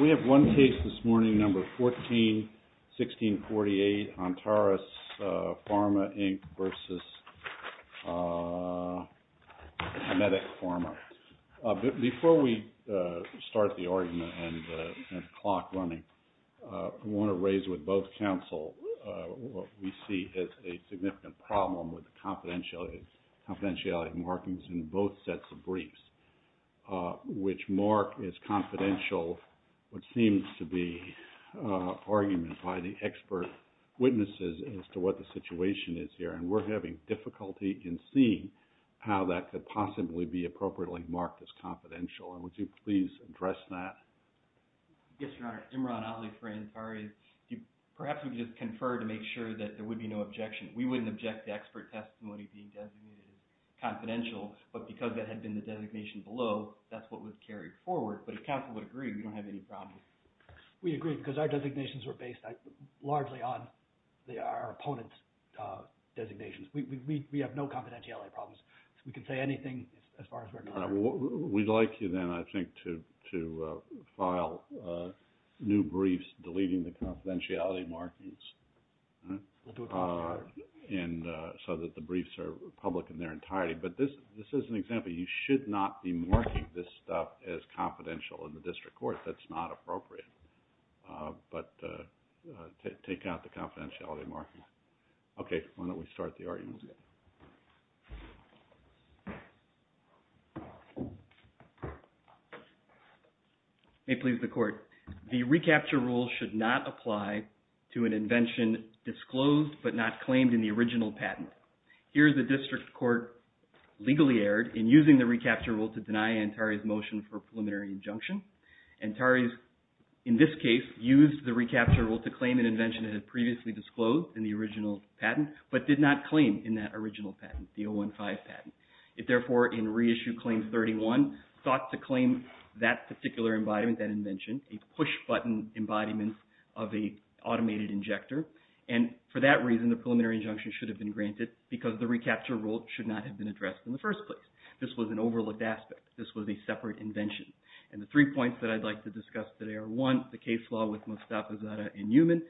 We have one case this morning, number 14-1648, Antares Pharma Inc. v. Medac Pharma. Before we start the argument and the clock running, I want to raise with both counsel what we see as a significant problem with the confidentiality markings in both sets of briefs, which mark as confidential what seems to be argument by the expert witnesses as to what the situation is here. And we're having difficulty in seeing how that could possibly be appropriately marked as confidential. And would you please address that? Yes, Your Honor. Imran Ali for Antares. Perhaps we could just confer to make sure that there would be no objection. We wouldn't object to expert testimony being designated confidential, but because that had been the designation below, that's what was carried forward. But if counsel would agree, we don't have any problem. We agree, because our designations were based largely on our opponent's designations. We have no confidentiality problems. We can say anything as far as we're concerned. We'd like you then, I think, to file new briefs deleting the confidentiality markings. We'll do it before you, Your Honor. And so that the briefs are public in their entirety. But this is an example. You should not be marking this stuff as confidential in the district court. That's not appropriate. But take out the confidentiality marking. Okay, why don't we start the argument. May it please the Court. The recapture rule should not apply to an invention disclosed, but not claimed in the original patent. Here is a district court legally erred in using the recapture rule to deny Antari's motion for preliminary injunction. Antari, in this case, used the recapture rule to claim an invention that had previously disclosed in the original patent, but did not claim in that original patent, the 015 patent. It therefore, in reissue claim 31, sought to claim that particular embodiment, that invention, a push-button embodiment of an automated injector. And for that reason, the preliminary injunction should have been granted because the recapture rule should not have been addressed in the first place. This was an overlooked aspect. This was a separate invention. And the three points that I'd like to discuss today are, one, the case law with Mostafa Zadeh and Newman,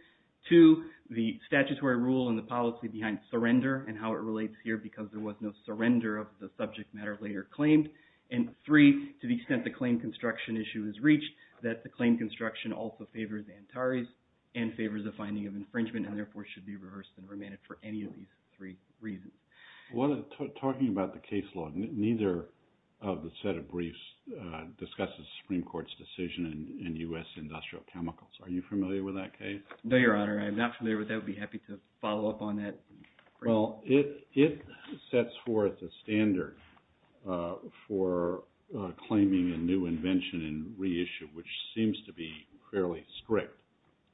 two, the statutory rule and the policy behind surrender and how it relates here because there was no surrender of the subject matter later claimed, and three, to the extent the claim construction issue is reached, that the claim construction also favors Antari's and favors the finding of infringement and, therefore, should be reversed and remanded for any of these three reasons. Talking about the case law, neither of the set of briefs discusses the Supreme Court's decision in U.S. Industrial Chemicals. Are you familiar with that case? No, Your Honor. I'm not familiar with that. I'd be happy to follow up on that. Well, it sets forth a standard for claiming a new invention in reissue, which seems to be fairly strict.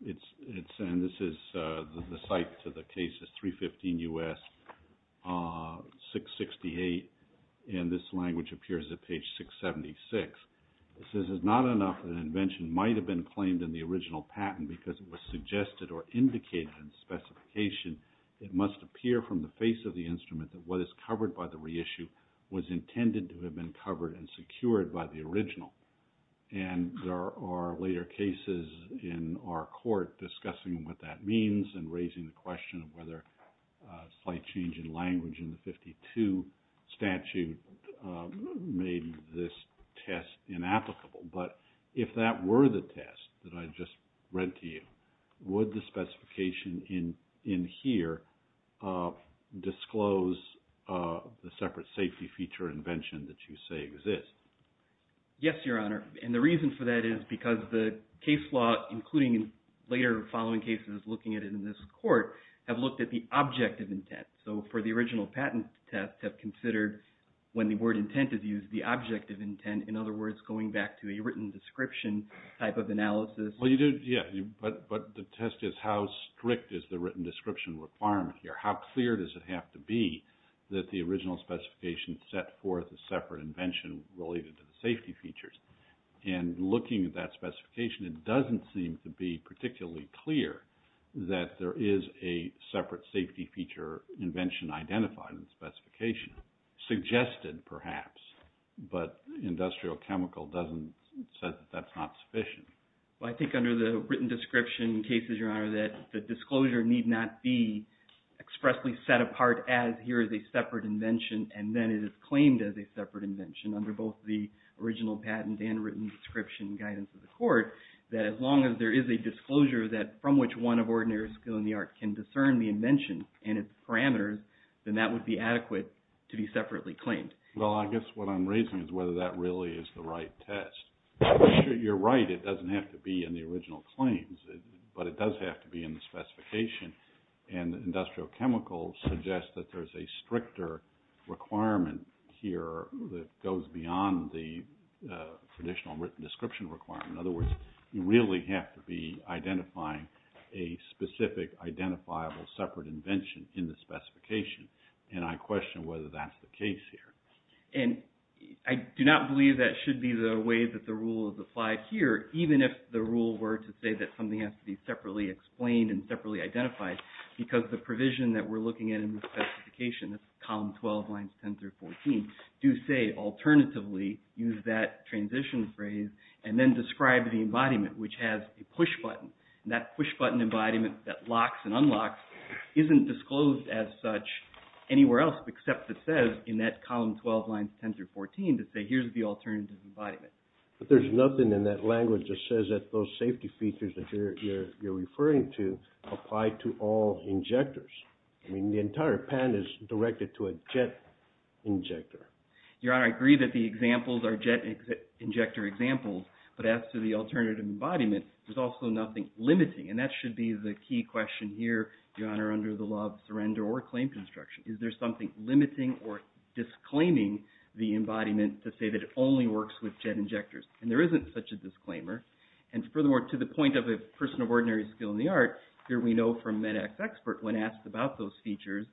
And this is the site to the case is 315 U.S., 668, and this language appears at page 676. It says, It is not enough that an invention might have been claimed in the original patent because it was suggested or indicated in the specification. It must appear from the face of the instrument that what is covered by the reissue was intended to have been covered and secured by the original. And there are later cases in our court discussing what that means and raising the question of whether a slight change in language in the 52 statute made this test inapplicable. But if that were the test that I just read to you, would the specification in here disclose the separate safety feature invention that you say exists? Yes, Your Honor. And the reason for that is because the case law, including later following cases looking at it in this court, have looked at the object of intent. So for the original patent test, have considered when the word intent is used, the object of intent. In other words, going back to a written description type of analysis. Well, you do, yeah. But the test is how strict is the written description requirement here? How clear does it have to be that the original specification set forth a separate invention related to the safety features? And looking at that specification, it doesn't seem to be particularly clear that there is a separate safety feature invention identified in the specification. Suggested, perhaps. But industrial chemical doesn't say that that's not sufficient. Well, I think under the written description cases, Your Honor, that the disclosure need not be expressly set apart as here is a separate invention and then it is claimed as a separate invention under both the original patent and written description guidance of the court that as long as there is a disclosure from which one of ordinary skill in the art can discern the invention and its parameters, then that would be adequate to be separately claimed. Well, I guess what I'm raising is whether that really is the right test. You're right. It doesn't have to be in the original claims, but it does have to be in the specification. And industrial chemicals suggest that there's a stricter requirement here that goes beyond the traditional written description requirement. In other words, you really have to be identifying a specific identifiable separate invention in the specification, and I question whether that's the case here. And I do not believe that should be the way that the rule is applied here, even if the rule were to say that something has to be separately explained and separately identified, because the provision that we're looking at in the specification, that's column 12, lines 10 through 14, do say alternatively use that transition phrase and then describe the embodiment, which has a push button. And that push button embodiment that locks and unlocks isn't disclosed as such anywhere else except it says in that column 12, lines 10 through 14, to say here's the alternative embodiment. But there's nothing in that language that says that those safety features that you're referring to apply to all injectors. I mean, the entire patent is directed to a jet injector. Your Honor, I agree that the examples are jet injector examples, but as to the alternative embodiment, there's also nothing limiting. And that should be the key question here, Your Honor, under the law of surrender or claim construction. Is there something limiting or disclaiming the embodiment to say that it only works with jet injectors? And there isn't such a disclaimer. And furthermore, to the point of a person of ordinary skill in the art, here we know from an expert when asked about those features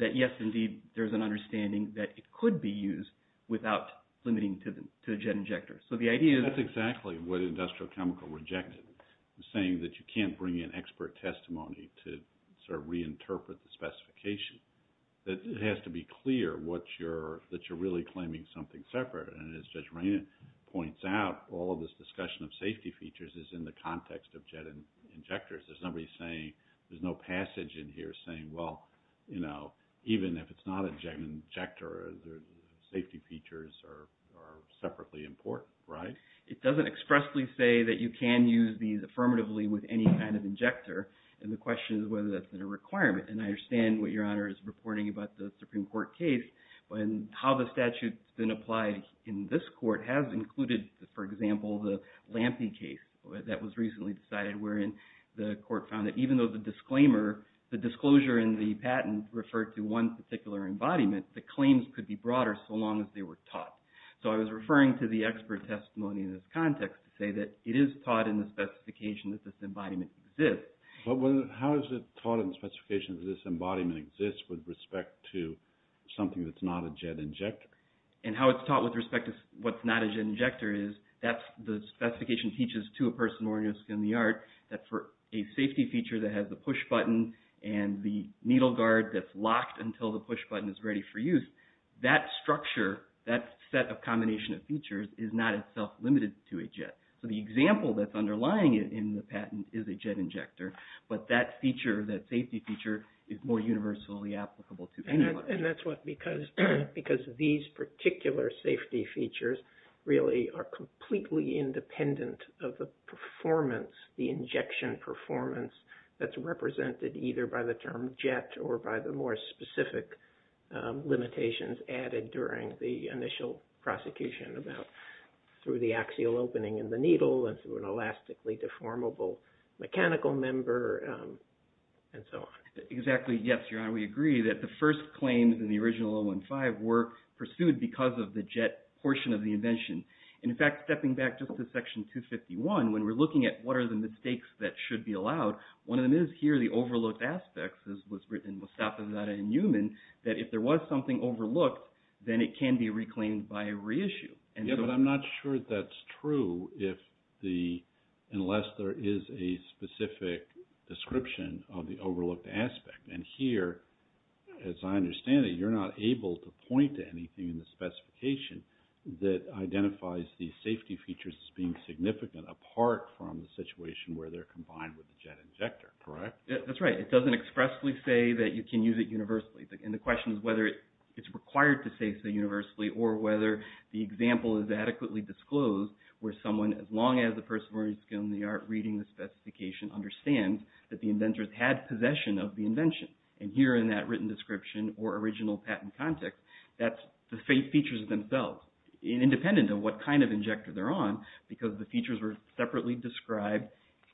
that yes, indeed, there's an understanding that it could be used without limiting to a jet injector. That's exactly what Industrial Chemical rejected, saying that you can't bring in expert testimony to sort of reinterpret the specification. It has to be clear that you're really claiming something separate. And as Judge Marina points out, all of this discussion of safety features is in the context of jet injectors. There's nobody saying, there's no passage in here saying, well, you know, even if it's not a jet injector, the safety features are separately important, right? It doesn't expressly say that you can use these affirmatively with any kind of injector, and the question is whether that's been a requirement. And I understand what Your Honor is reporting about the Supreme Court case and how the statute's been applied in this court has included, for example, the Lampe case that was recently decided, wherein the court found that even though the disclaimer, the disclosure in the patent referred to one particular embodiment, the claims could be broader so long as they were taught. So I was referring to the expert testimony in this context to say that it is taught in the specification that this embodiment exists. But how is it taught in the specification that this embodiment exists with respect to something that's not a jet injector? And how it's taught with respect to what's not a jet injector is the specification teaches to a person more or less in the art that for a safety feature that has the push button and the needle guard that's locked until the push button is ready for use, that structure, that set of combination of features, is not itself limited to a jet. So the example that's underlying it in the patent is a jet injector, but that safety feature is more universally applicable to anybody. And that's because these particular safety features really are completely independent of the performance, the injection performance that's represented either by the term jet or by the more specific limitations added during the initial prosecution about through the axial opening in the needle and through an elastically deformable mechanical member, and so on. Exactly. Yes, Your Honor, we agree that the first claims in the original 015 were pursued because of the jet portion of the invention. And in fact, stepping back just to Section 251, when we're looking at what are the mistakes that should be allowed, one of them is here the overlooked aspects, as was written by Mostafa Zadeh and Newman, that if there was something overlooked, then it can be reclaimed by reissue. Yes, but I'm not sure that's true unless there is a specific description of the overlooked aspect. And here, as I understand it, you're not able to point to anything in the specification that identifies these safety features as being significant apart from the situation where they're combined with the jet injector, correct? That's right. It doesn't expressly say that you can use it universally. And the question is whether it's required to say it's universally or whether the example is adequately disclosed where someone, as long as the person is skilled in the art reading the specification, understands that the inventors had possession of the invention. And here in that written description or original patent context, that's the features themselves, independent of what kind of injector they're on, because the features were separately described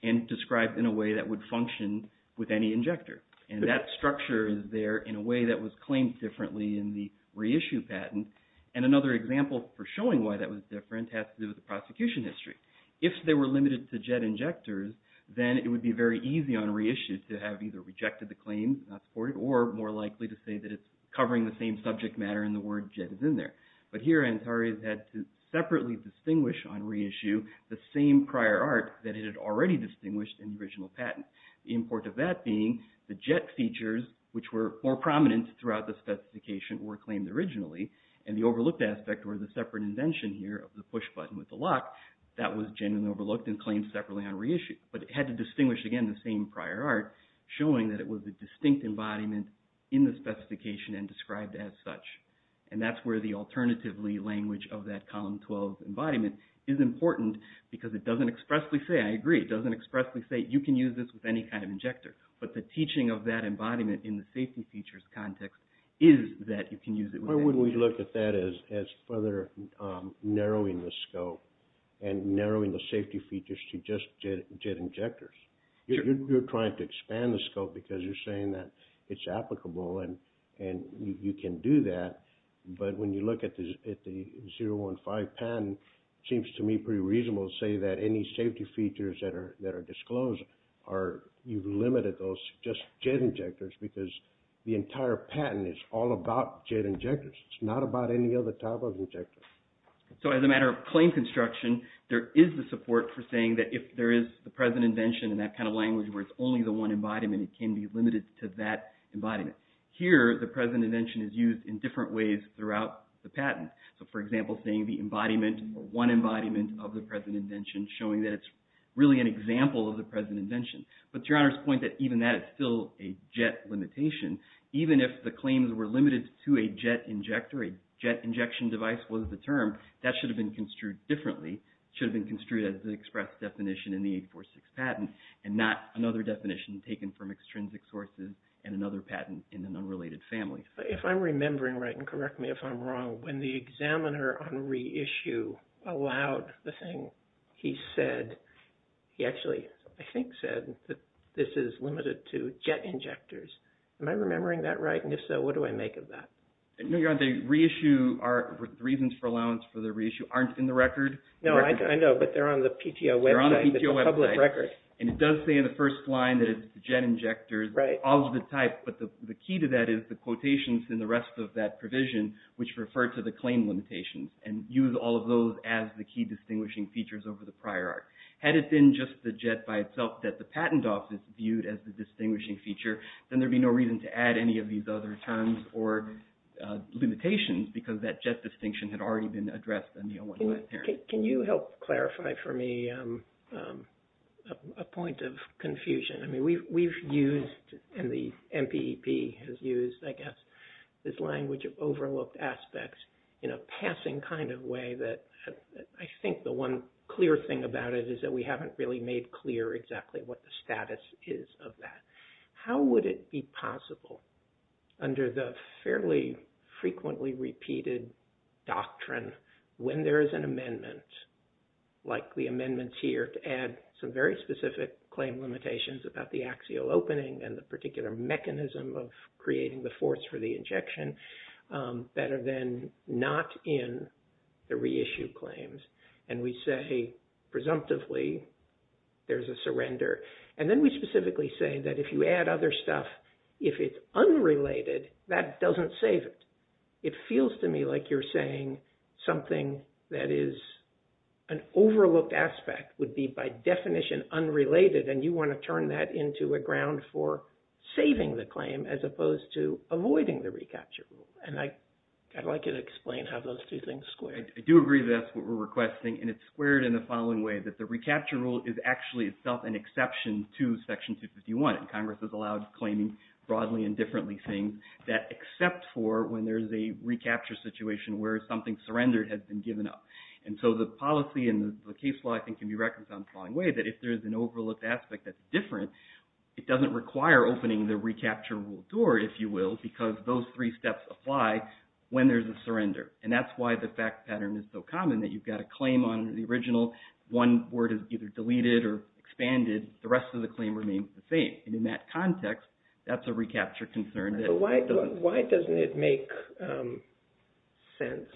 and described in a way that would function with any injector. And that structure is there in a way that was claimed differently in the reissue patent. And another example for showing why that was different has to do with the prosecution history. If they were limited to jet injectors, then it would be very easy on reissue to have either rejected the claim, not supported, or more likely to say that it's covering the same subject matter and the word jet is in there. But here, Antares had to separately distinguish on reissue the same prior art that it had already distinguished in the original patent. The importance of that being the jet features, which were more prominent throughout the specification, were claimed originally. And the overlooked aspect, or the separate invention here of the push button with the lock, that was generally overlooked and claimed separately on reissue. But it had to distinguish, again, the same prior art, showing that it was a distinct embodiment in the specification and described as such. And that's where the alternative language of that column 12 embodiment is important because it doesn't expressly say, I agree, it doesn't expressly say you can use this with any kind of injector. But the teaching of that embodiment in the safety features context is that you can use it with any kind of injector. Why wouldn't we look at that as further narrowing the scope and narrowing the safety features to just jet injectors? You're trying to expand the scope because you're saying that it's applicable and you can do that. But when you look at the 015 patent, it seems to me pretty reasonable to say that any safety features that are disclosed, you've limited those to just jet injectors because the entire patent is all about jet injectors. It's not about any other type of injector. So as a matter of claim construction, there is the support for saying that if there is the present invention in that kind of language where it's only the one embodiment, it can be limited to that embodiment. Here, the present invention is used in different ways throughout the patent. So, for example, saying the embodiment or one embodiment of the present invention, showing that it's really an example of the present invention. But to Your Honor's point that even that is still a jet limitation, even if the claims were limited to a jet injector, a jet injection device was the term, that should have been construed differently. It should have been construed as the express definition in the 846 patent and not another definition taken from extrinsic sources and another patent in an unrelated family. If I'm remembering right, and correct me if I'm wrong, when the examiner on reissue allowed the thing, he actually, I think, said that this is limited to jet injectors. Am I remembering that right? And if so, what do I make of that? No, Your Honor, the reasons for allowance for the reissue aren't in the record. No, I know, but they're on the PTO website. They're on the PTO website. It's a public record. And it does say in the first line that it's jet injectors, all of the type, but the key to that is the quotations in the rest of that provision, which refer to the claim limitations and use all of those as the key distinguishing features over the prior art. Had it been just the jet by itself that the patent office viewed as the distinguishing feature, then there would be no reason to add any of these other terms or limitations because that jet distinction had already been addressed in the 015 hearing. Can you help clarify for me a point of confusion? This language of overlooked aspects in a passing kind of way that I think the one clear thing about it is that we haven't really made clear exactly what the status is of that. How would it be possible under the fairly frequently repeated doctrine when there is an amendment like the amendments here to add some very specific claim limitations about the axial opening and the particular mechanism of creating the force for the injection, better than not in the reissue claims? And we say, presumptively, there's a surrender. And then we specifically say that if you add other stuff, if it's unrelated, that doesn't save it. It feels to me like you're saying something that is an overlooked aspect would be by definition unrelated, and you want to turn that into a ground for saving the claim as opposed to avoiding the recapture rule. And I'd like you to explain how those two things square. I do agree that that's what we're requesting, and it's squared in the following way, that the recapture rule is actually itself an exception to Section 251. Congress has allowed claiming broadly and differently things that except for when there's a recapture situation where something surrendered has been given up. And so the policy and the case law, I think, can be reconciled in the following way, that if there's an overlooked aspect that's different, it doesn't require opening the recapture rule door, if you will, because those three steps apply when there's a surrender. And that's why the fact pattern is so common, that you've got a claim on the original, one word is either deleted or expanded, the rest of the claim remains the same. And in that context, that's a recapture concern. Why doesn't it make sense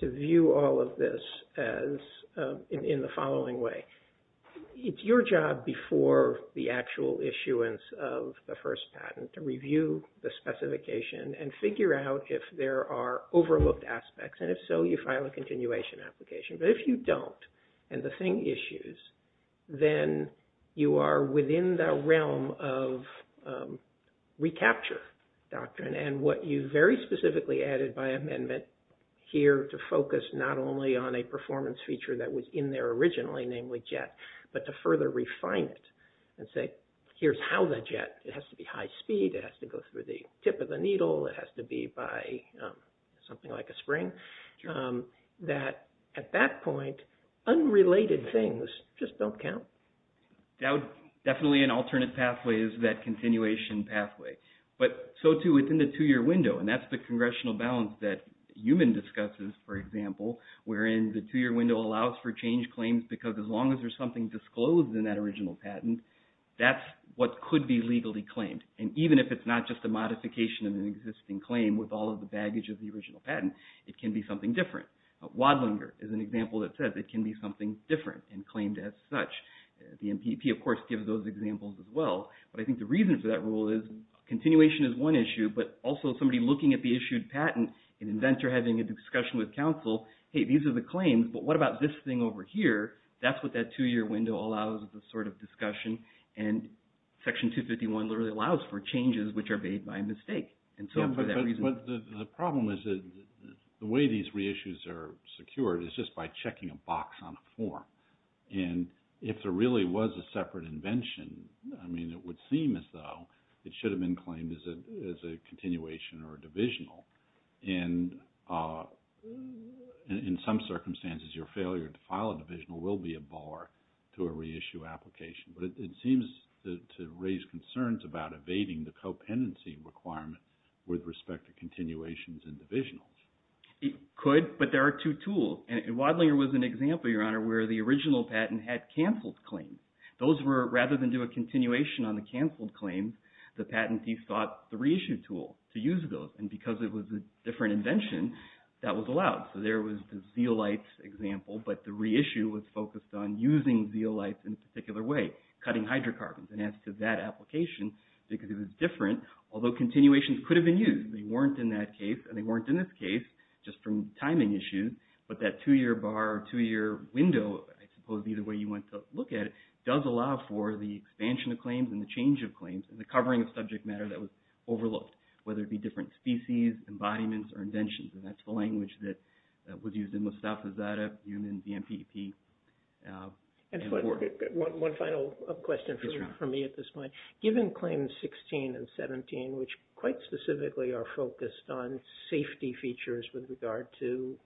to view all of this in the following way? It's your job before the actual issuance of the first patent to review the specification and figure out if there are overlooked aspects, and if so, you file a continuation application. But if you don't, and the thing issues, then you are within the realm of recapture doctrine. And what you very specifically added by amendment here to focus not only on a performance feature that was in there originally, namely jet, but to further refine it and say, here's how the jet, it has to be high speed, it has to go through the tip of the needle, it has to be by something like a spring, that at that point, unrelated things just don't count. Definitely an alternate pathway is that continuation pathway. But so too within the two-year window, and that's the congressional balance that Heumann discusses, for example, wherein the two-year window allows for change claims because as long as there's something disclosed in that original patent, that's what could be legally claimed. And even if it's not just a modification of an existing claim with all of the baggage of the original patent, it can be something different. Wadlinger is an example that says it can be something different and claimed as such. The NPP, of course, gives those examples as well. But I think the reason for that rule is continuation is one issue, but also somebody looking at the issued patent, an inventor having a discussion with counsel, hey, these are the claims, but what about this thing over here? That's what that two-year window allows as a sort of discussion. And Section 251 literally allows for changes which are made by mistake. And so for that reason… But the problem is the way these reissues are secured is just by checking a box on a form. And if there really was a separate invention, I mean, it would seem as though it should have been claimed as a continuation or a divisional. And in some circumstances, your failure to file a divisional will be a bar to a reissue application. But it seems to raise concerns about evading the co-pendency requirement with respect to continuations and divisionals. It could, but there are two tools. And Wadlinger was an example, Your Honor, where the original patent had canceled claims. Those were, rather than do a continuation on the canceled claims, the patentee sought the reissue tool to use those. And because it was a different invention, that was allowed. So there was the Zeolites example, but the reissue was focused on using Zeolites in a particular way, cutting hydrocarbons. And as to that application, because it was different, although continuations could have been used, they weren't in that case and they weren't in this case, just from timing issues. But that two-year bar or two-year window, I suppose either way you want to look at it, does allow for the expansion of claims and the change of claims and the covering of subject matter that was overlooked, whether it be different species, embodiments, or inventions. And that's the language that was used in Mostafa Zadeh, Newman, the MPP, and Ford. One final question for me at this point. Given Claims 16 and 17, which quite specifically are focused on safety features with regard to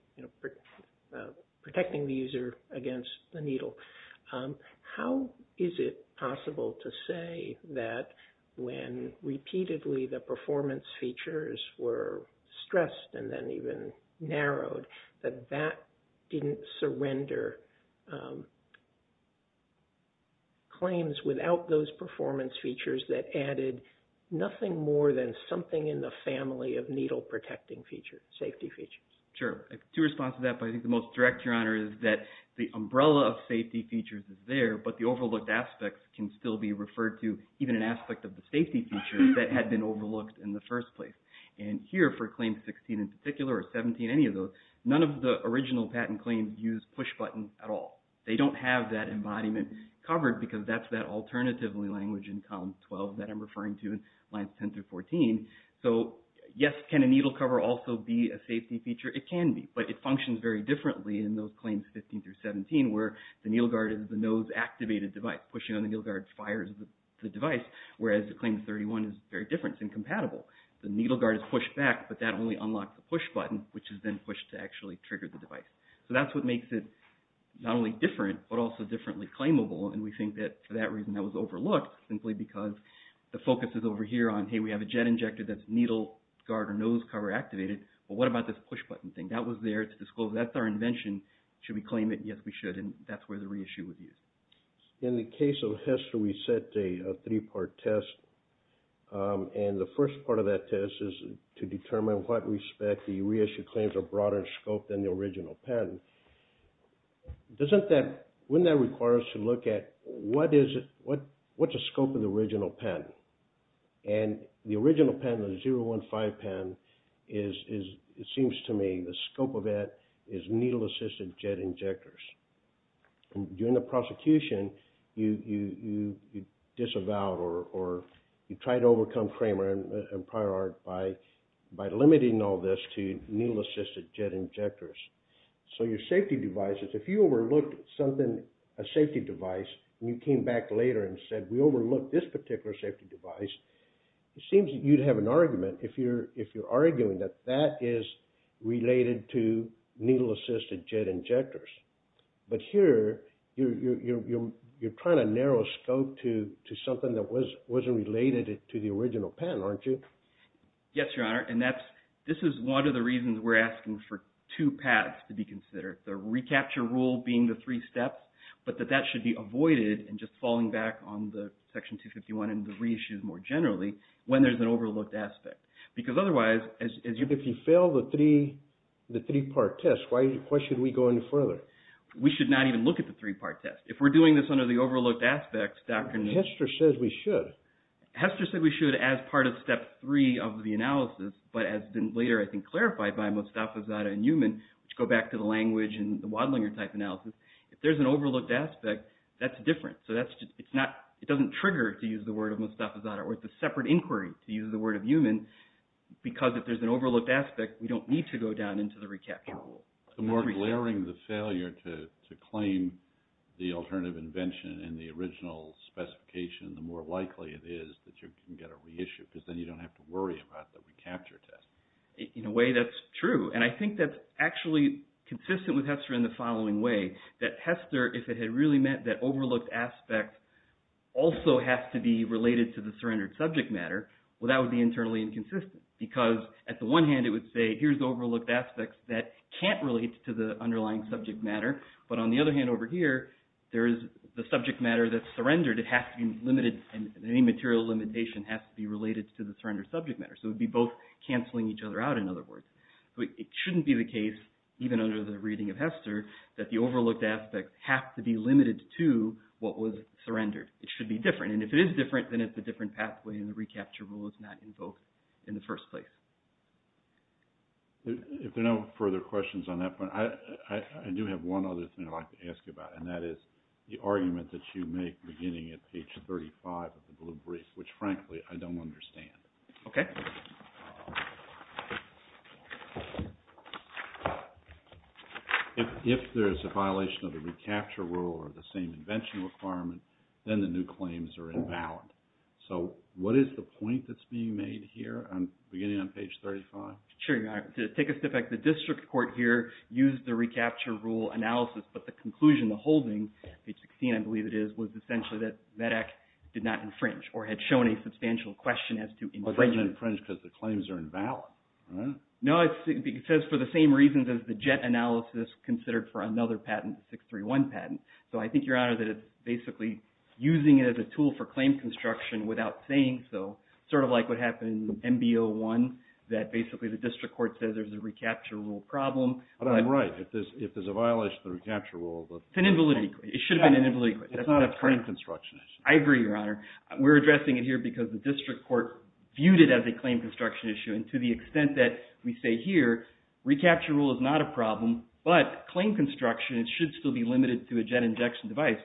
protecting the user against the needle, how is it possible to say that when repeatedly the performance features were stressed and then even narrowed, that that didn't surrender claims without those performance features that added nothing more than something in the family of needle-protecting features, safety features? Sure. To respond to that, but I think the most direct, Your Honor, is that the umbrella of safety features is there, but the overlooked aspects can still be referred to, even an aspect of the safety features that had been overlooked in the first place. And here for Claims 16 in particular, or 17, any of those, none of the original patent claims use pushbuttons at all. They don't have that embodiment covered because that's that alternative language in Columns 12 that I'm referring to in Lines 10 through 14. So, yes, can a needle cover also be a safety feature? It can be, but it functions very differently in those Claims 15 through 17 where the needle guard is the nose-activated device. Pushing on the needle guard fires the device, whereas the Claims 31 is very different. It's incompatible. The needle guard is pushed back, but that only unlocks the pushbutton, which is then pushed to actually trigger the device. So that's what makes it not only different, but also differently claimable, and we think that for that reason that was overlooked simply because the focus is over here on, hey, we have a jet injector that's needle guard or nose cover activated, but what about this pushbutton thing? That was there to disclose that's our invention. Should we claim it? Yes, we should, and that's where the reissue would be. In the case of HESTA, we set a three-part test, and the first part of that test is to determine what respect the reissue claims are broader in scope than the original patent. Doesn't that, wouldn't that require us to look at what is it, what's the scope of the original patent? And the original patent, the 015 patent, is, it seems to me, the scope of it is needle-assisted jet injectors. During the prosecution, you disavow or you try to overcome Kramer and Prior Art by limiting all this to needle-assisted jet injectors. So your safety devices, if you overlooked something, a safety device, and you came back later and said, we overlooked this particular safety device, it seems that you'd have an argument if you're arguing that that is related to needle-assisted jet injectors. But here, you're trying to narrow scope to something that wasn't related to the original patent, aren't you? Yes, Your Honor, and that's, this is one of the reasons we're asking for two paths to be considered. The recapture rule being the three steps, but that that should be avoided, and just falling back on the Section 251 and the reissues more generally when there's an overlooked aspect. Because otherwise, as you... If you fail the three-part test, why should we go any further? We should not even look at the three-part test. If we're doing this under the overlooked aspects, Dr. Neal... Hester said we should as part of Step 3 of the analysis, but as later, I think, clarified by Mostafizadeh and Newman, which go back to the language and the Wadlinger-type analysis, if there's an overlooked aspect, that's different. So that's just... It's not... It doesn't trigger, to use the word of Mostafizadeh, or it's a separate inquiry, to use the word of Newman, because if there's an overlooked aspect, we don't need to go down into the recapture rule. The more glaring the failure to claim the alternative invention in the original specification, the more likely it is that you can get a reissue, because then you don't have to worry about the recapture test. In a way, that's true. And I think that's actually consistent with Hester in the following way, that Hester, if it had really meant that overlooked aspects also have to be related to the surrendered subject matter, well, that would be internally inconsistent, because at the one hand, it would say, here's overlooked aspects that can't relate to the underlying subject matter, but on the other hand over here, there is the subject matter that's surrendered. It has to be limited, and any material limitation has to be related to the surrendered subject matter. So it would be both canceling each other out, in other words. It shouldn't be the case, even under the reading of Hester, that the overlooked aspects have to be limited to what was surrendered. It should be different, and if it is different, then it's a different pathway, and the recapture rule is not invoked in the first place. If there are no further questions on that point, I do have one other thing I'd like to ask you about, and that is the argument that you make beginning at page 35 of the Blue Brief, which frankly, I don't understand. Okay. If there's a violation of the recapture rule or the same invention requirement, then the new claims are invalid. So what is the point that's being made here, beginning on page 35? Sure, your Honor. To take a step back, the district court here used the recapture rule analysis, but the conclusion, the holding, page 16 I believe it is, was essentially that MEDEC did not infringe or had shown a substantial question as to infringement. It doesn't infringe because the claims are invalid, right? No, it says for the same reasons as the JET analysis considered for another patent, the 631 patent. So I think, your Honor, that it's basically using it as a tool for claim construction without saying so, sort of like what happened in MB01, that basically the district court says there's a recapture rule problem. But I'm right. If there's a violation of the recapture rule, the… It's an invalidity claim. It should have been an invalidity claim. It's not a claim construction issue. I agree, your Honor. We're addressing it here because the district court viewed it as a claim construction issue. And to the extent that we say here, recapture rule is not a problem, but claim construction should still be limited to a JET injection device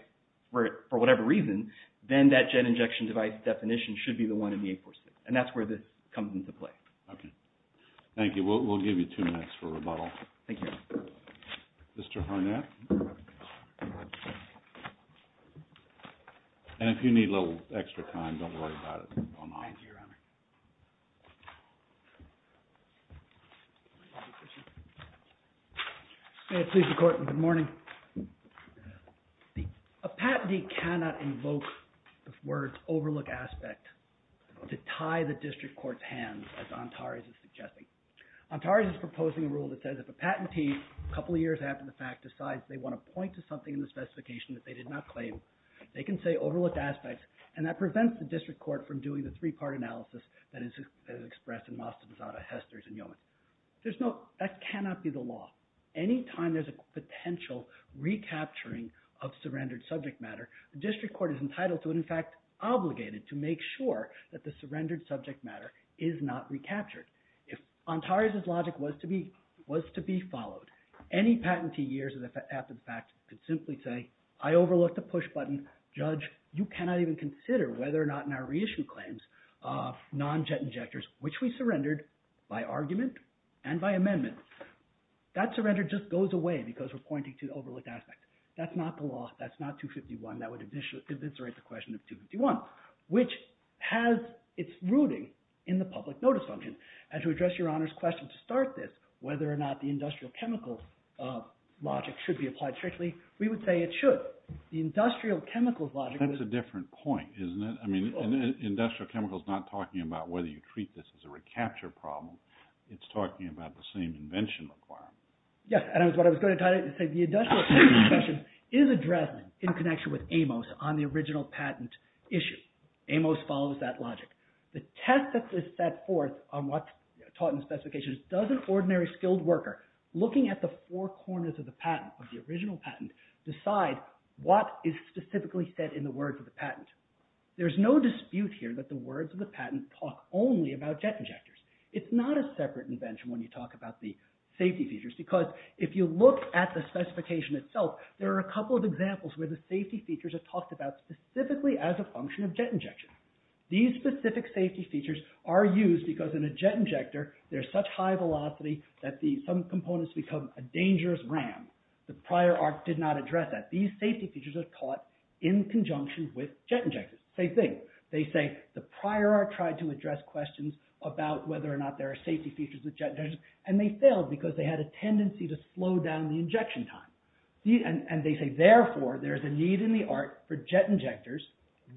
for whatever reason, then that JET injection device definition should be the one in the 846. And that's where this comes into play. Okay. Thank you. We'll give you two minutes for rebuttal. Thank you. Mr. Harnack? And if you need a little extra time, don't worry about it. Thank you, your Honor. May it please the court. Good morning. A patentee cannot invoke the words overlook aspect to tie the district court's hands, as Antares is suggesting. Antares is proposing a rule that says if a patentee, a couple of years after the fact, decides they want to point to something in the specification that they did not claim, they can say overlook aspects. And that prevents the district court from doing the three-part analysis that is expressed in Mastodon, Hester's, and Yeoman. That cannot be the law. Any time there's a potential recapturing of surrendered subject matter, the district court is entitled to, and in fact obligated, to make sure that the surrendered subject matter is not recaptured. If Antares' logic was to be followed, any patentee years after the fact could simply say, I overlooked a push button. Judge, you cannot even consider whether or not in our reissue claims non-jet injectors, which we surrendered by argument and by amendment. That surrender just goes away because we're pointing to the overlook aspect. That's not the law. That's not 251. That would eviscerate the question of 251, which has its rooting in the public notice function. And to address your Honor's question to start this, whether or not the industrial chemicals logic should be applied strictly, we would say it should. The industrial chemicals logic. That's a different point, isn't it? Industrial chemicals is not talking about whether you treat this as a recapture problem. It's talking about the same invention requirement. Yes, and that's what I was going to try to say. The industrial chemicals question is addressed in connection with Amos on the original patent issue. Amos follows that logic. The test that is set forth on what's taught in the specifications does an ordinary skilled worker looking at the four corners of the patent, of the original patent, decide what is specifically said in the words of the patent. There's no dispute here that the words of the patent talk only about jet injectors. It's not a separate invention when you talk about the safety features because if you look at the specification itself, there are a couple of examples where the safety features are talked about specifically as a function of jet injection. These specific safety features are used because in a jet injector there's such high velocity that some components become a dangerous ram. The prior art did not address that. These safety features are taught in conjunction with jet injectors. Same thing. They say the prior art tried to address questions about whether or not there are safety features with jet injectors, and they failed because they had a tendency to slow down the injection time. And they say, therefore, there's a need in the art for jet injectors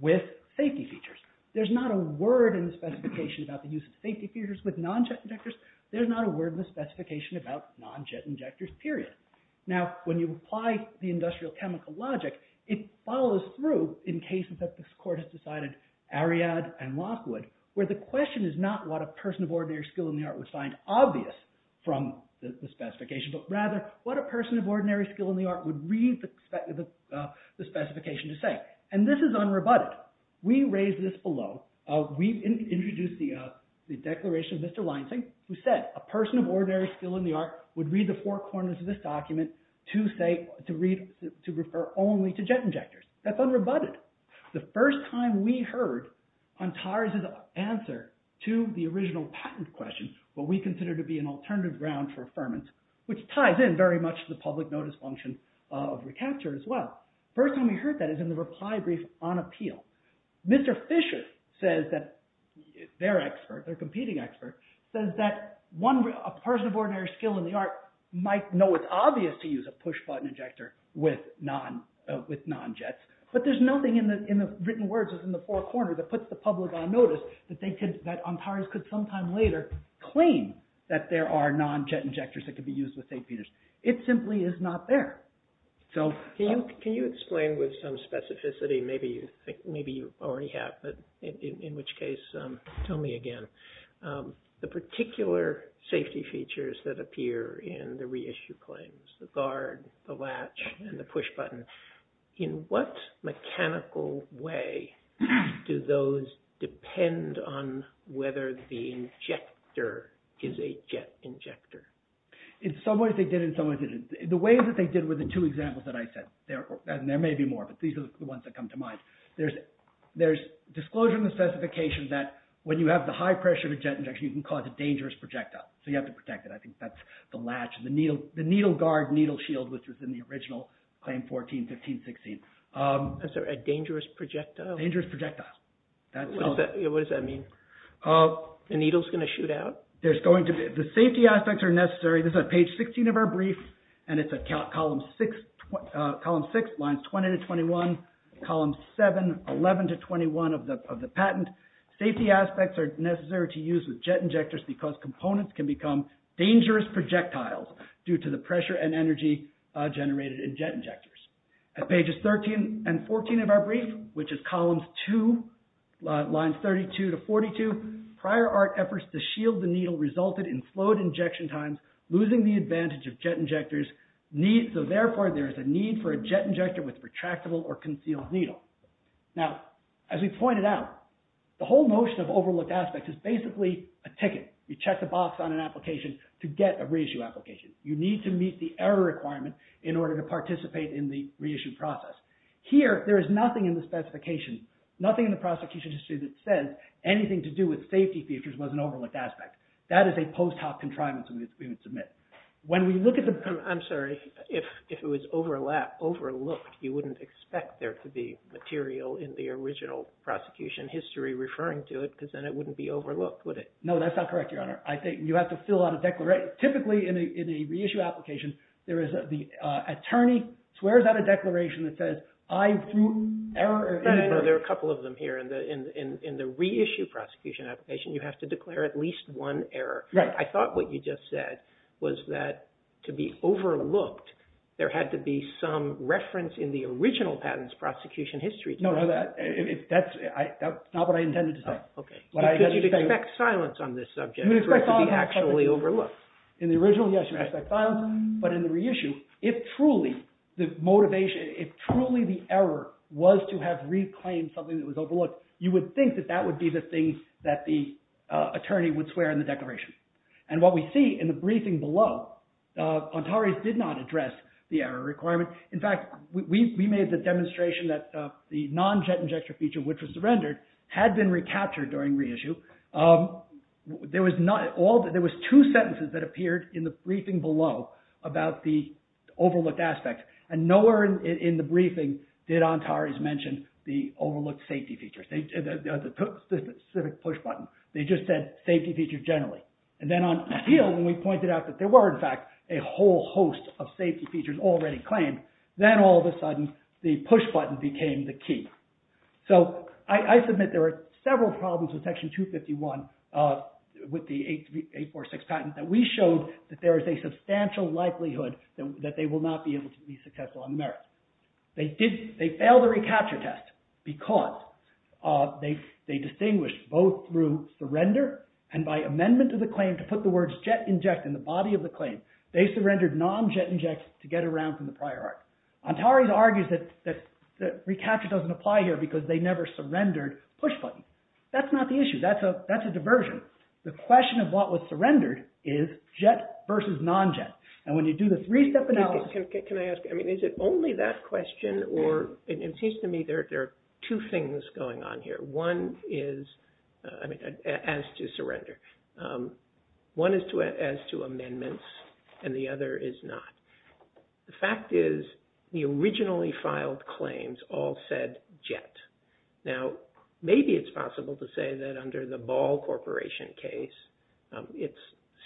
with safety features. There's not a word in the specification about the use of safety features with non-jet injectors. There's not a word in the specification about non-jet injectors, period. Now, when you apply the industrial chemical logic, it follows through in cases that the court has decided, Ariadne and Lockwood, where the question is not what a person of ordinary skill in the art would find obvious from the specification, but rather what a person of ordinary skill in the art would read the specification to say. And this is unrebutted. We raised this below. We introduced the declaration of Mr. Leinsink, who said, a person of ordinary skill in the art would read the four corners of this document to say, to read, to refer only to jet injectors. That's unrebutted. The first time we heard Antares' answer to the original patent question, what we consider to be an alternative ground for affirmance, which ties in very much to the public notice function of recapture as well. First time we heard that is in the reply brief on appeal. Mr. Fisher says that, their expert, their competing expert, says that a person of ordinary skill in the art might know it's obvious to use a push-button injector with non-jets, but there's nothing in the written words in the four corners that puts the public on notice that Antares could sometime later claim that there are non-jet injectors that could be used with St. Peter's. It simply is not there. Can you explain with some specificity, maybe you already have, but in which case tell me again, the particular safety features that appear in the reissue claims, the guard, the latch, and the push-button, in what mechanical way do those depend on whether the injector is a jet injector? In some ways they did, in some ways they didn't. The ways that they did were the two examples that I said. There may be more, but these are the ones that come to mind. There's disclosure in the specification that when you have the high pressure of a jet injection, you can cause a dangerous projectile, so you have to protect it. I think that's the latch, the needle guard, needle shield, which was in the original Claim 14-15-16. Is there a dangerous projectile? Dangerous projectile. What does that mean? The needle is going to shoot out? The safety aspects are necessary. This is at page 16 of our brief, and it's at column 6, lines 20-21, columns 7, 11-21 of the patent. Safety aspects are necessary to use with jet injectors because components can become dangerous projectiles due to the pressure and energy generated in jet injectors. At pages 13 and 14 of our brief, which is columns 2, lines 32-42, prior art efforts to shield the needle resulted in flowed injection times losing the advantage of jet injectors, so therefore there is a need for a jet injector with retractable or concealed needle. Now, as we pointed out, the whole notion of overlooked aspects is basically a ticket. You check the box on an application to get a reissue application. You need to meet the error requirement in order to participate in the reissue process. Here, there is nothing in the specification, nothing in the prosecution history that says anything to do with safety features was an overlooked aspect. That is a post hoc contrivance we would submit. When we look at the... I'm sorry. If it was overlooked, you wouldn't expect there to be material in the original prosecution history referring to it because then it wouldn't be overlooked, would it? No, that's not correct, Your Honor. I think you have to fill out a declaration. Typically, in a reissue application, there is the attorney swears out a declaration that says I threw error... There are a couple of them here. In the reissue prosecution application, you have to declare at least one error. Right. I thought what you just said was that to be overlooked, there had to be some reference in the original patent's prosecution history. No, that's not what I intended to say. Could you expect silence on this subject for it to be actually overlooked? In the original, yes, you expect silence. But in the reissue, if truly the motivation, if truly the error was to have reclaimed something that was overlooked, you would think that that would be the thing that the attorney would swear in the declaration. And what we see in the briefing below, Antares did not address the error requirement. In fact, we made the demonstration that the non-jet injector feature, which was surrendered, had been recaptured during reissue. There was two sentences that appeared in the briefing below about the overlooked aspect, and nowhere in the briefing did Antares mention the overlooked safety features, the specific push button. They just said safety features generally. And then on appeal, when we pointed out that there were, in fact, a whole host of safety features already claimed, then all of a sudden, the push button became the key. So I submit there are several problems with Section 251 with the 846 patent that we showed that there is a substantial likelihood that they will not be able to be successful on merit. They failed the recapture test because they distinguished both through surrender and by amendment of the claim to put the words jet inject in the body of the claim. They surrendered non-jet inject to get around from the prior art. Antares argues that recapture doesn't apply here because they never surrendered push button. That's not the issue. That's a diversion. The question of what was surrendered is jet versus non-jet. And when you do the three-step analysis... Can I ask? I mean, is it only that question, or it seems to me there are two things going on here. One is, I mean, as to surrender. One is as to amendments, and the other is not. The fact is the originally filed claims all said jet. Now, maybe it's possible to say that under the Ball Corporation case, its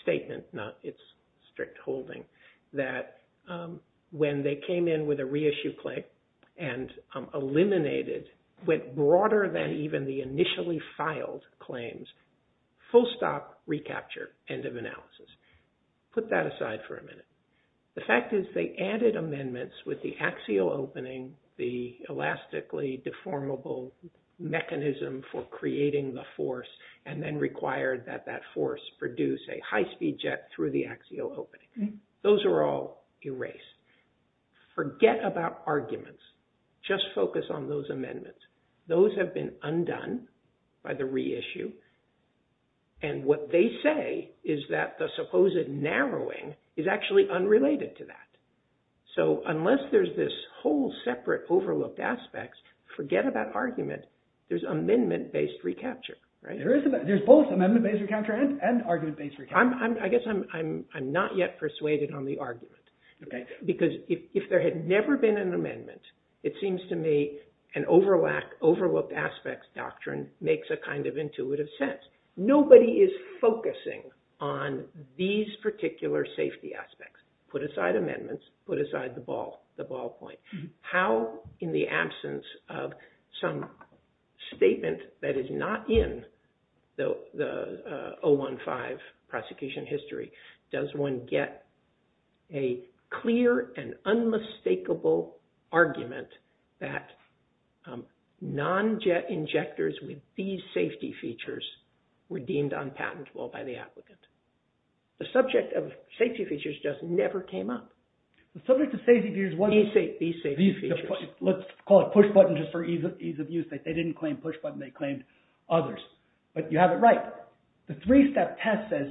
statement, not its strict holding, that when they filed claims, full stop, recapture, end of analysis. Put that aside for a minute. The fact is they added amendments with the axial opening, the elastically deformable mechanism for creating the force, and then required that that force produce a high-speed jet through the axial opening. Those are all erased. Forget about arguments. Just focus on those amendments. Those have been undone by the reissue, and what they say is that the supposed narrowing is actually unrelated to that. So unless there's this whole separate overlooked aspect, forget about argument. There's amendment-based recapture, right? There's both amendment-based recapture and argument-based recapture. I guess I'm not yet persuaded on the argument. Okay. Because if there had never been an amendment, it seems to me an overlooked aspects doctrine makes a kind of intuitive sense. Nobody is focusing on these particular safety aspects. Put aside amendments. Put aside the ball, the ballpoint. How, in the absence of some statement that is not in the 015 prosecution history, does one get a clear and unmistakable argument that non-jet injectors with these safety features were deemed unpatentable by the applicant? The subject of safety features just never came up. The subject of safety features was these safety features. Let's call it push-button just for ease of use. They didn't claim push-button. They claimed others. But you have it right. The three-step test says,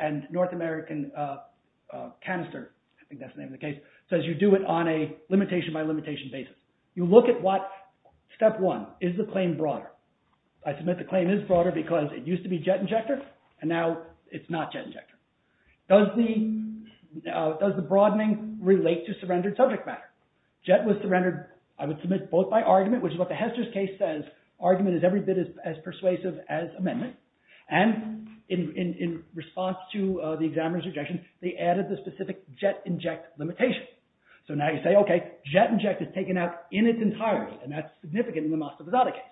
and North American canister, I think that's the name of the case, says you do it on a limitation by limitation basis. You look at what, step one, is the claim broader? I submit the claim is broader because it used to be jet injector and now it's not jet injector. Does the broadening relate to surrendered subject matter? Jet was surrendered, I would submit, both by argument, which is what the Hester's case says. Argument is every bit as persuasive as amendment. And in response to the examiner's objection, they added the specific jet inject limitation. So now you say, OK, jet inject is taken out in its entirety and that's significant in the Mostovizadeh case.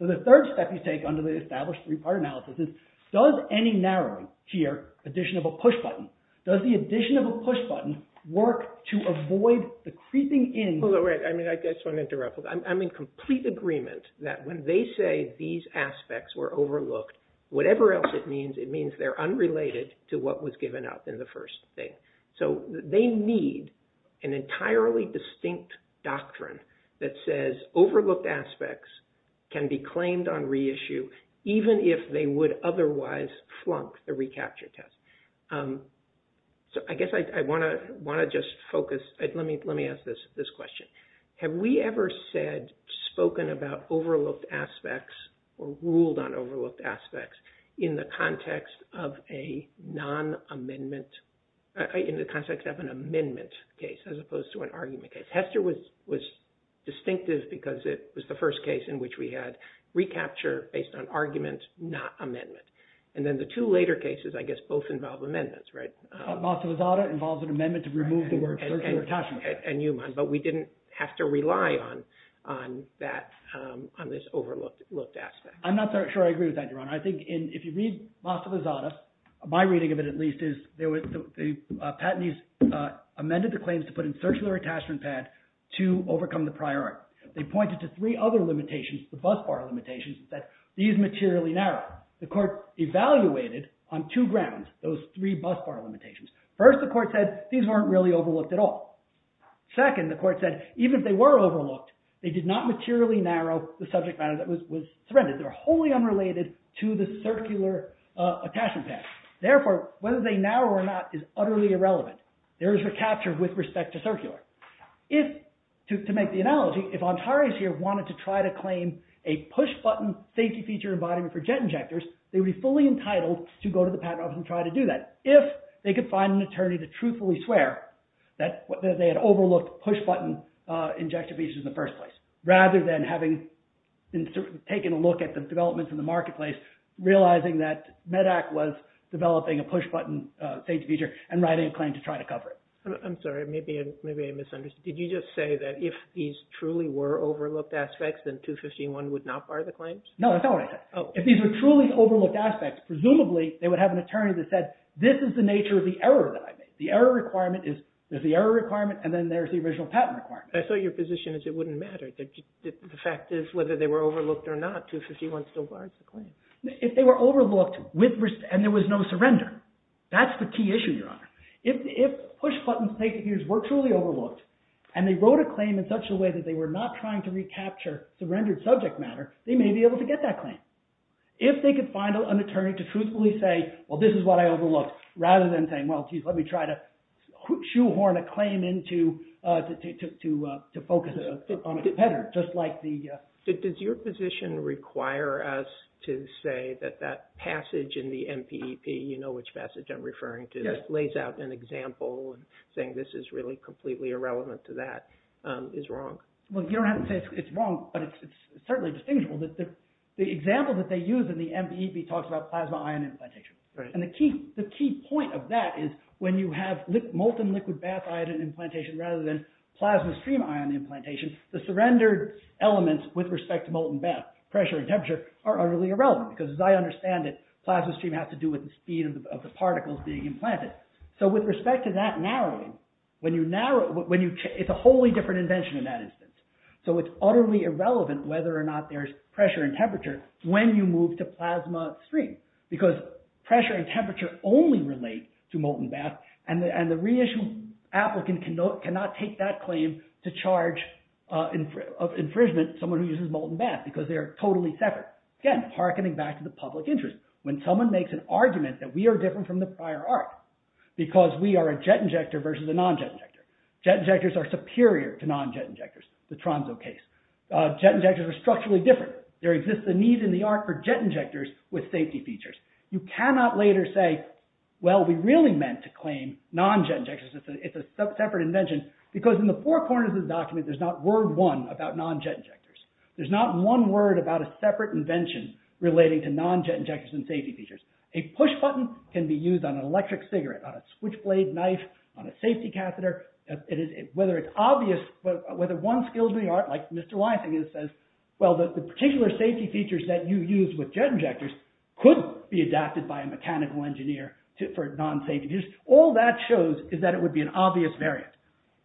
So the third step you take under the established three-part analysis is, does any narrowing here, addition of a push-button, does the addition of a push-button work to avoid the creeping in? I just want to interrupt. I'm in complete agreement that when they say these aspects were overlooked, whatever else it means, it means they're unrelated to what was given up in the first thing. So they need an entirely distinct doctrine that says overlooked aspects can be claimed on reissue, even if they would otherwise flunk the recapture test. So I guess I want to just focus. Let me ask this question. Have we ever said, spoken about overlooked aspects or ruled on overlooked aspects in the context of a non-amendment, in the context of an amendment case as opposed to an argument case? Hester was distinctive because it was the first case in which we had recapture based on argument, not amendment. And then the two later cases, I guess, both involve amendments, right? Mostovizadeh involves an amendment to remove the word tertiary attachment. But we didn't have to rely on this overlooked aspect. I'm not sure I agree with that, Your Honor. I think if you read Mostovizadeh, my reading of it, at least, is the patentees amended the claims to put in tertiary attachment pad to overcome the priority. They pointed to three other limitations, the bus bar limitations, that these materially narrow. The court evaluated on two grounds those three bus bar limitations. First, the court said, these weren't really overlooked at all. Second, the court said, even if they were overlooked, they did not materially narrow the subject matter that was surrendered. They were wholly unrelated to the circular attachment pad. Therefore, whether they narrow or not is utterly irrelevant. There is a capture with respect to circular. To make the analogy, if Antares here wanted to try to claim a push-button safety feature embodiment for jet injectors, they would be fully entitled to go to the patent office and try to do that if they could find an attorney to truthfully swear that they had overlooked push-button injection features in the first place, rather than having taken a look at the developments in the marketplace, realizing that MEDAC was developing a push-button safety feature and writing a claim to try to cover it. I'm sorry. Maybe I misunderstood. Did you just say that if these truly were overlooked aspects, then 251 would not bar the claims? No, that's not what I said. If these were truly overlooked aspects, presumably, they would have an attorney that said, this is the nature of the error that I made. The error requirement is, there's the error requirement and then there's the original patent requirement. I saw your position as it wouldn't matter. The fact is whether they were overlooked or not, 251 still guards the claim. If they were overlooked and there was no surrender, that's the key issue, Your Honor. If push-button safety features were truly overlooked and they wrote a claim in such a way that they were not trying to recapture the rendered subject matter, they may be able to get that claim. If they could find an attorney to truthfully say, well, this is what I overlooked, rather than saying, well, geez, let me try to shoehorn a claim in to focus on a competitor, just like the… Does your position require us to say that that passage in the MPEP, you know which passage I'm referring to, lays out an example and saying this is really completely irrelevant to that, is wrong? Well, Your Honor, it's wrong, but it's certainly distinguishable. The example that they use in the MPEP talks about plasma ion implantation. And the key point of that is when you have molten liquid bath ion implantation rather than plasma stream ion implantation, the surrendered elements with respect to molten bath, pressure, and temperature are utterly irrelevant because as I understand it, plasma stream has to do with the speed of the particles being implanted. So with respect to that narrowing, it's a wholly different invention in that instance. So it's utterly irrelevant whether or not there's pressure and temperature when you move to plasma stream, because pressure and temperature only relate to molten bath, and the reissued applicant cannot take that claim to charge of infringement someone who uses molten bath because they are totally separate. Again, hearkening back to the public interest, when someone makes an argument that we are different from the prior art because we are a jet injector versus a non-jet injector. Jet injectors are superior to non-jet injectors. The Tromso case. Jet injectors are structurally different. There exists a need in the art for jet injectors with safety features. You cannot later say, well, we really meant to claim non-jet injectors. It's a separate invention because in the four corners of the document, there's not word one about non-jet injectors. There's not one word about a separate invention relating to non-jet injectors and safety features. A push button can be used on an electric cigarette, on a switchblade knife, on a safety catheter. Whether it's obvious, whether one skills in the art, like Mr. Weisinger says, well, the particular safety features that you use with jet injectors could be adapted by a mechanical engineer for non-safety features. All that shows is that it would be an obvious variant.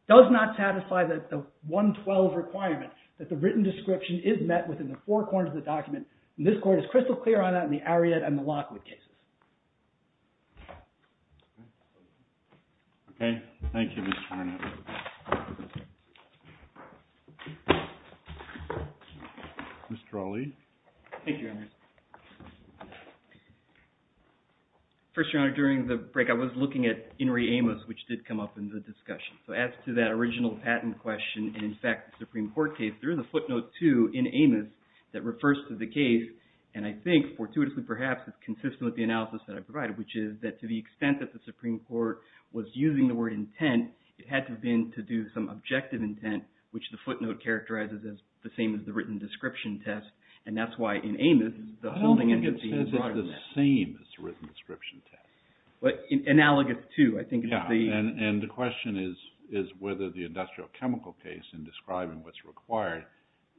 Does not satisfy the 112 requirement that the written description is met within the four corners of the document. And this court is crystal clear on that in the Ariat and the Lockwood cases. Okay. Thank you, Mr. Harnett. Mr. Ali. Thank you, Your Honor. First, Your Honor, during the break, I was looking at Inri Amos, which did come up in the discussion. So as to that original patent question, and in fact, the Supreme Court case, there is a footnote two in Amos that refers to the case, and I think, fortuitously perhaps, is consistent with the analysis that I provided, which is that to the extent that the Supreme Court was using the word intent, it had to have been to do some objective intent, which the footnote characterizes as the same as the written description test. And that's why in Amos, the holding entity is broader than that. I don't think it says it's the same as the written description test. But analogous to, I think it's the... Yeah, and the question is whether the industrial chemical case in describing what's required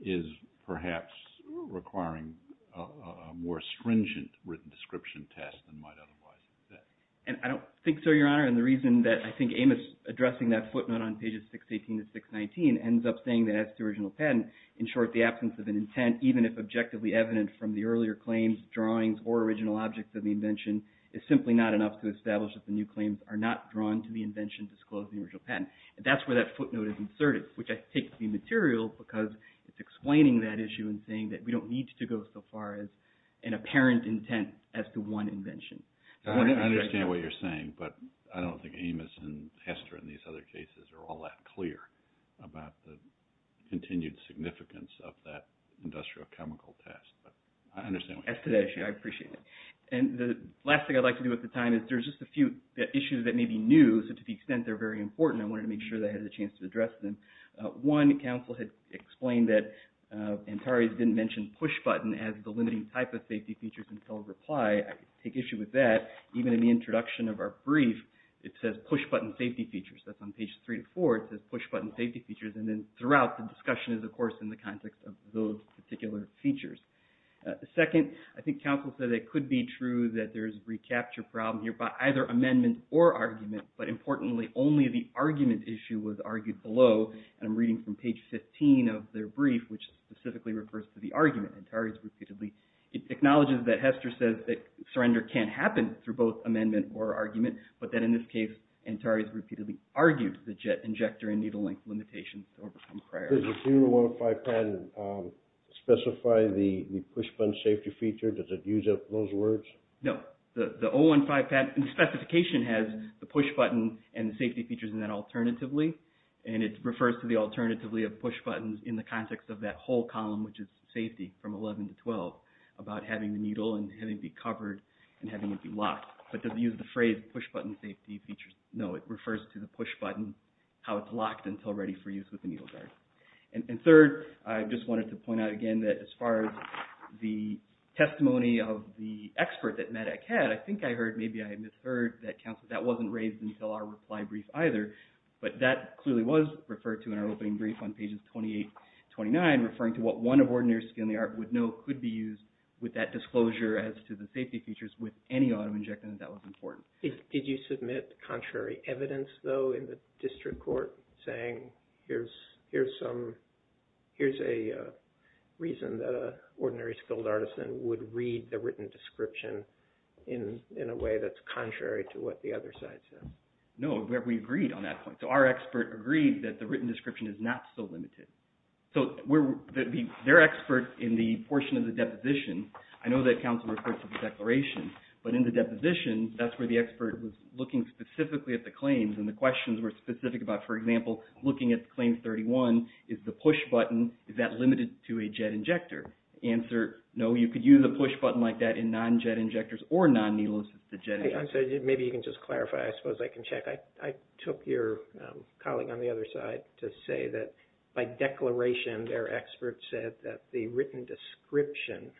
is perhaps requiring a more stringent written description test than might otherwise exist. And I don't think so, Your Honor, and the reason that I think Amos addressing that footnote on pages 618 to 619 ends up saying that as to original patent, in short, the absence of an intent, even if objectively evident from the earlier claims, drawings, or original objects of the invention, is simply not enough to establish that the new claims are not drawn to the invention disclosing the original patent. And that's where that footnote is inserted, which I take to be material because it's explaining that issue and saying that we don't need to go so far as an apparent intent as to one invention. I understand what you're saying, but I don't think Amos and Hester and these other cases are all that clear about the continued significance of that industrial chemical test. But I understand what you're saying. As to that issue, I appreciate it. And the last thing I'd like to do at the time is there's just a few issues that may be new, so to the extent they're very important, I wanted to make sure that I had a chance to address them. One, counsel had explained that Antares didn't mention pushbutton as the limiting type of safety features until reply. I take issue with that. Even in the introduction of our brief, it says pushbutton safety features. That's on page three to four. It says pushbutton safety features. And then throughout the discussion is, of course, in the context of those particular features. Second, I think counsel said it could be true that there is a recapture problem here by either amendment or argument, but importantly, only the argument issue was argued below. And I'm reading from page 15 of their brief, which specifically refers to the argument. Antares repeatedly acknowledges that Hester says that surrender can't happen through both amendment or argument, but that in this case, Antares repeatedly argued the jet injector and needle length limitations don't become a priority. Does the 015 patent specify the pushbutton safety feature? Does it use up those words? No. The 015 specification has the pushbutton and the safety features in that alternatively, and it refers to the alternatively of pushbuttons in the context of that whole column, which is safety from 11 to 12, about having the needle and having it be covered and having it be locked. But it doesn't use the phrase pushbutton safety features. No, it refers to the pushbutton, how it's locked until ready for use with the needle guard. And third, I just wanted to point out again that as far as the testimony of the expert that MADAC had, I think I heard, maybe I misheard, that that wasn't raised until our reply brief either, but that clearly was referred to in our opening brief on pages 28 and 29, referring to what one of ordinary skilled art would know could be used with that disclosure as to the safety features with any autoinjection that that was important. Did you submit contrary evidence, though, in the district court saying here's a reason that an ordinary skilled artisan would read the written description in a way that's contrary to what the other side said? No, we agreed on that point. So our expert agreed that the written description is not so limited. So their expert in the portion of the deposition, I know that counsel referred to the declaration, but in the deposition, that's where the expert was looking specifically at the claims and the questions were specific about, for example, looking at claim 31, is the pushbutton, is that limited to a jet injector? Answer, no, you could use a pushbutton like that in non-jet injectors or non-needle-assisted jet injectors. I'm sorry, maybe you can just clarify. I suppose I can check. I took your colleague on the other side to say that by declaration, their expert said that the written description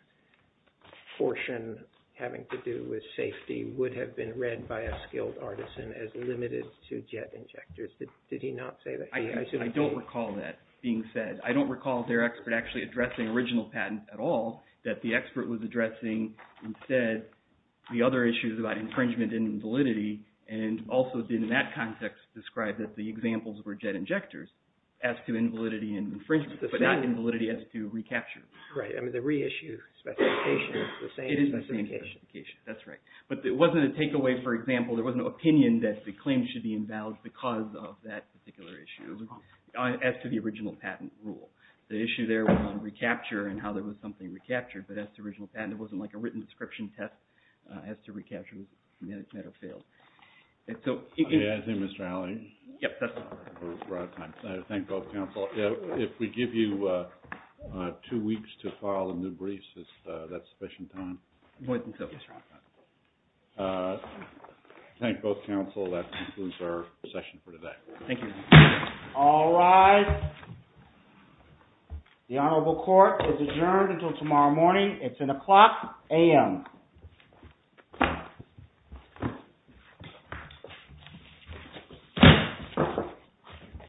portion having to do with safety would have been read by a skilled artisan as limited to jet injectors. Did he not say that? I don't recall that being said. I don't recall their expert actually addressing original patents at all, that the expert was addressing instead the other issues about infringement and invalidity and also didn't in that context describe that the examples were jet injectors as to invalidity and infringement, but not invalidity as to recapture. Right, I mean the reissue specification is the same specification. It is the same specification, that's right. But it wasn't a takeaway, for example, there was no opinion that the claim should be invalid because of that particular issue as to the original patent rule. The issue there was recapture and how there was something recaptured, but as to original patent, it wasn't like a written description test as to recapture was met or failed. I think Mr. Alley. Yes, that's right. Thank both counsel. If we give you two weeks to file the new briefs, is that sufficient time? More than so. Thank both counsel. That concludes our session for today. Thank you. All rise. The Honorable Court is adjourned until tomorrow morning. It's an o'clock a.m.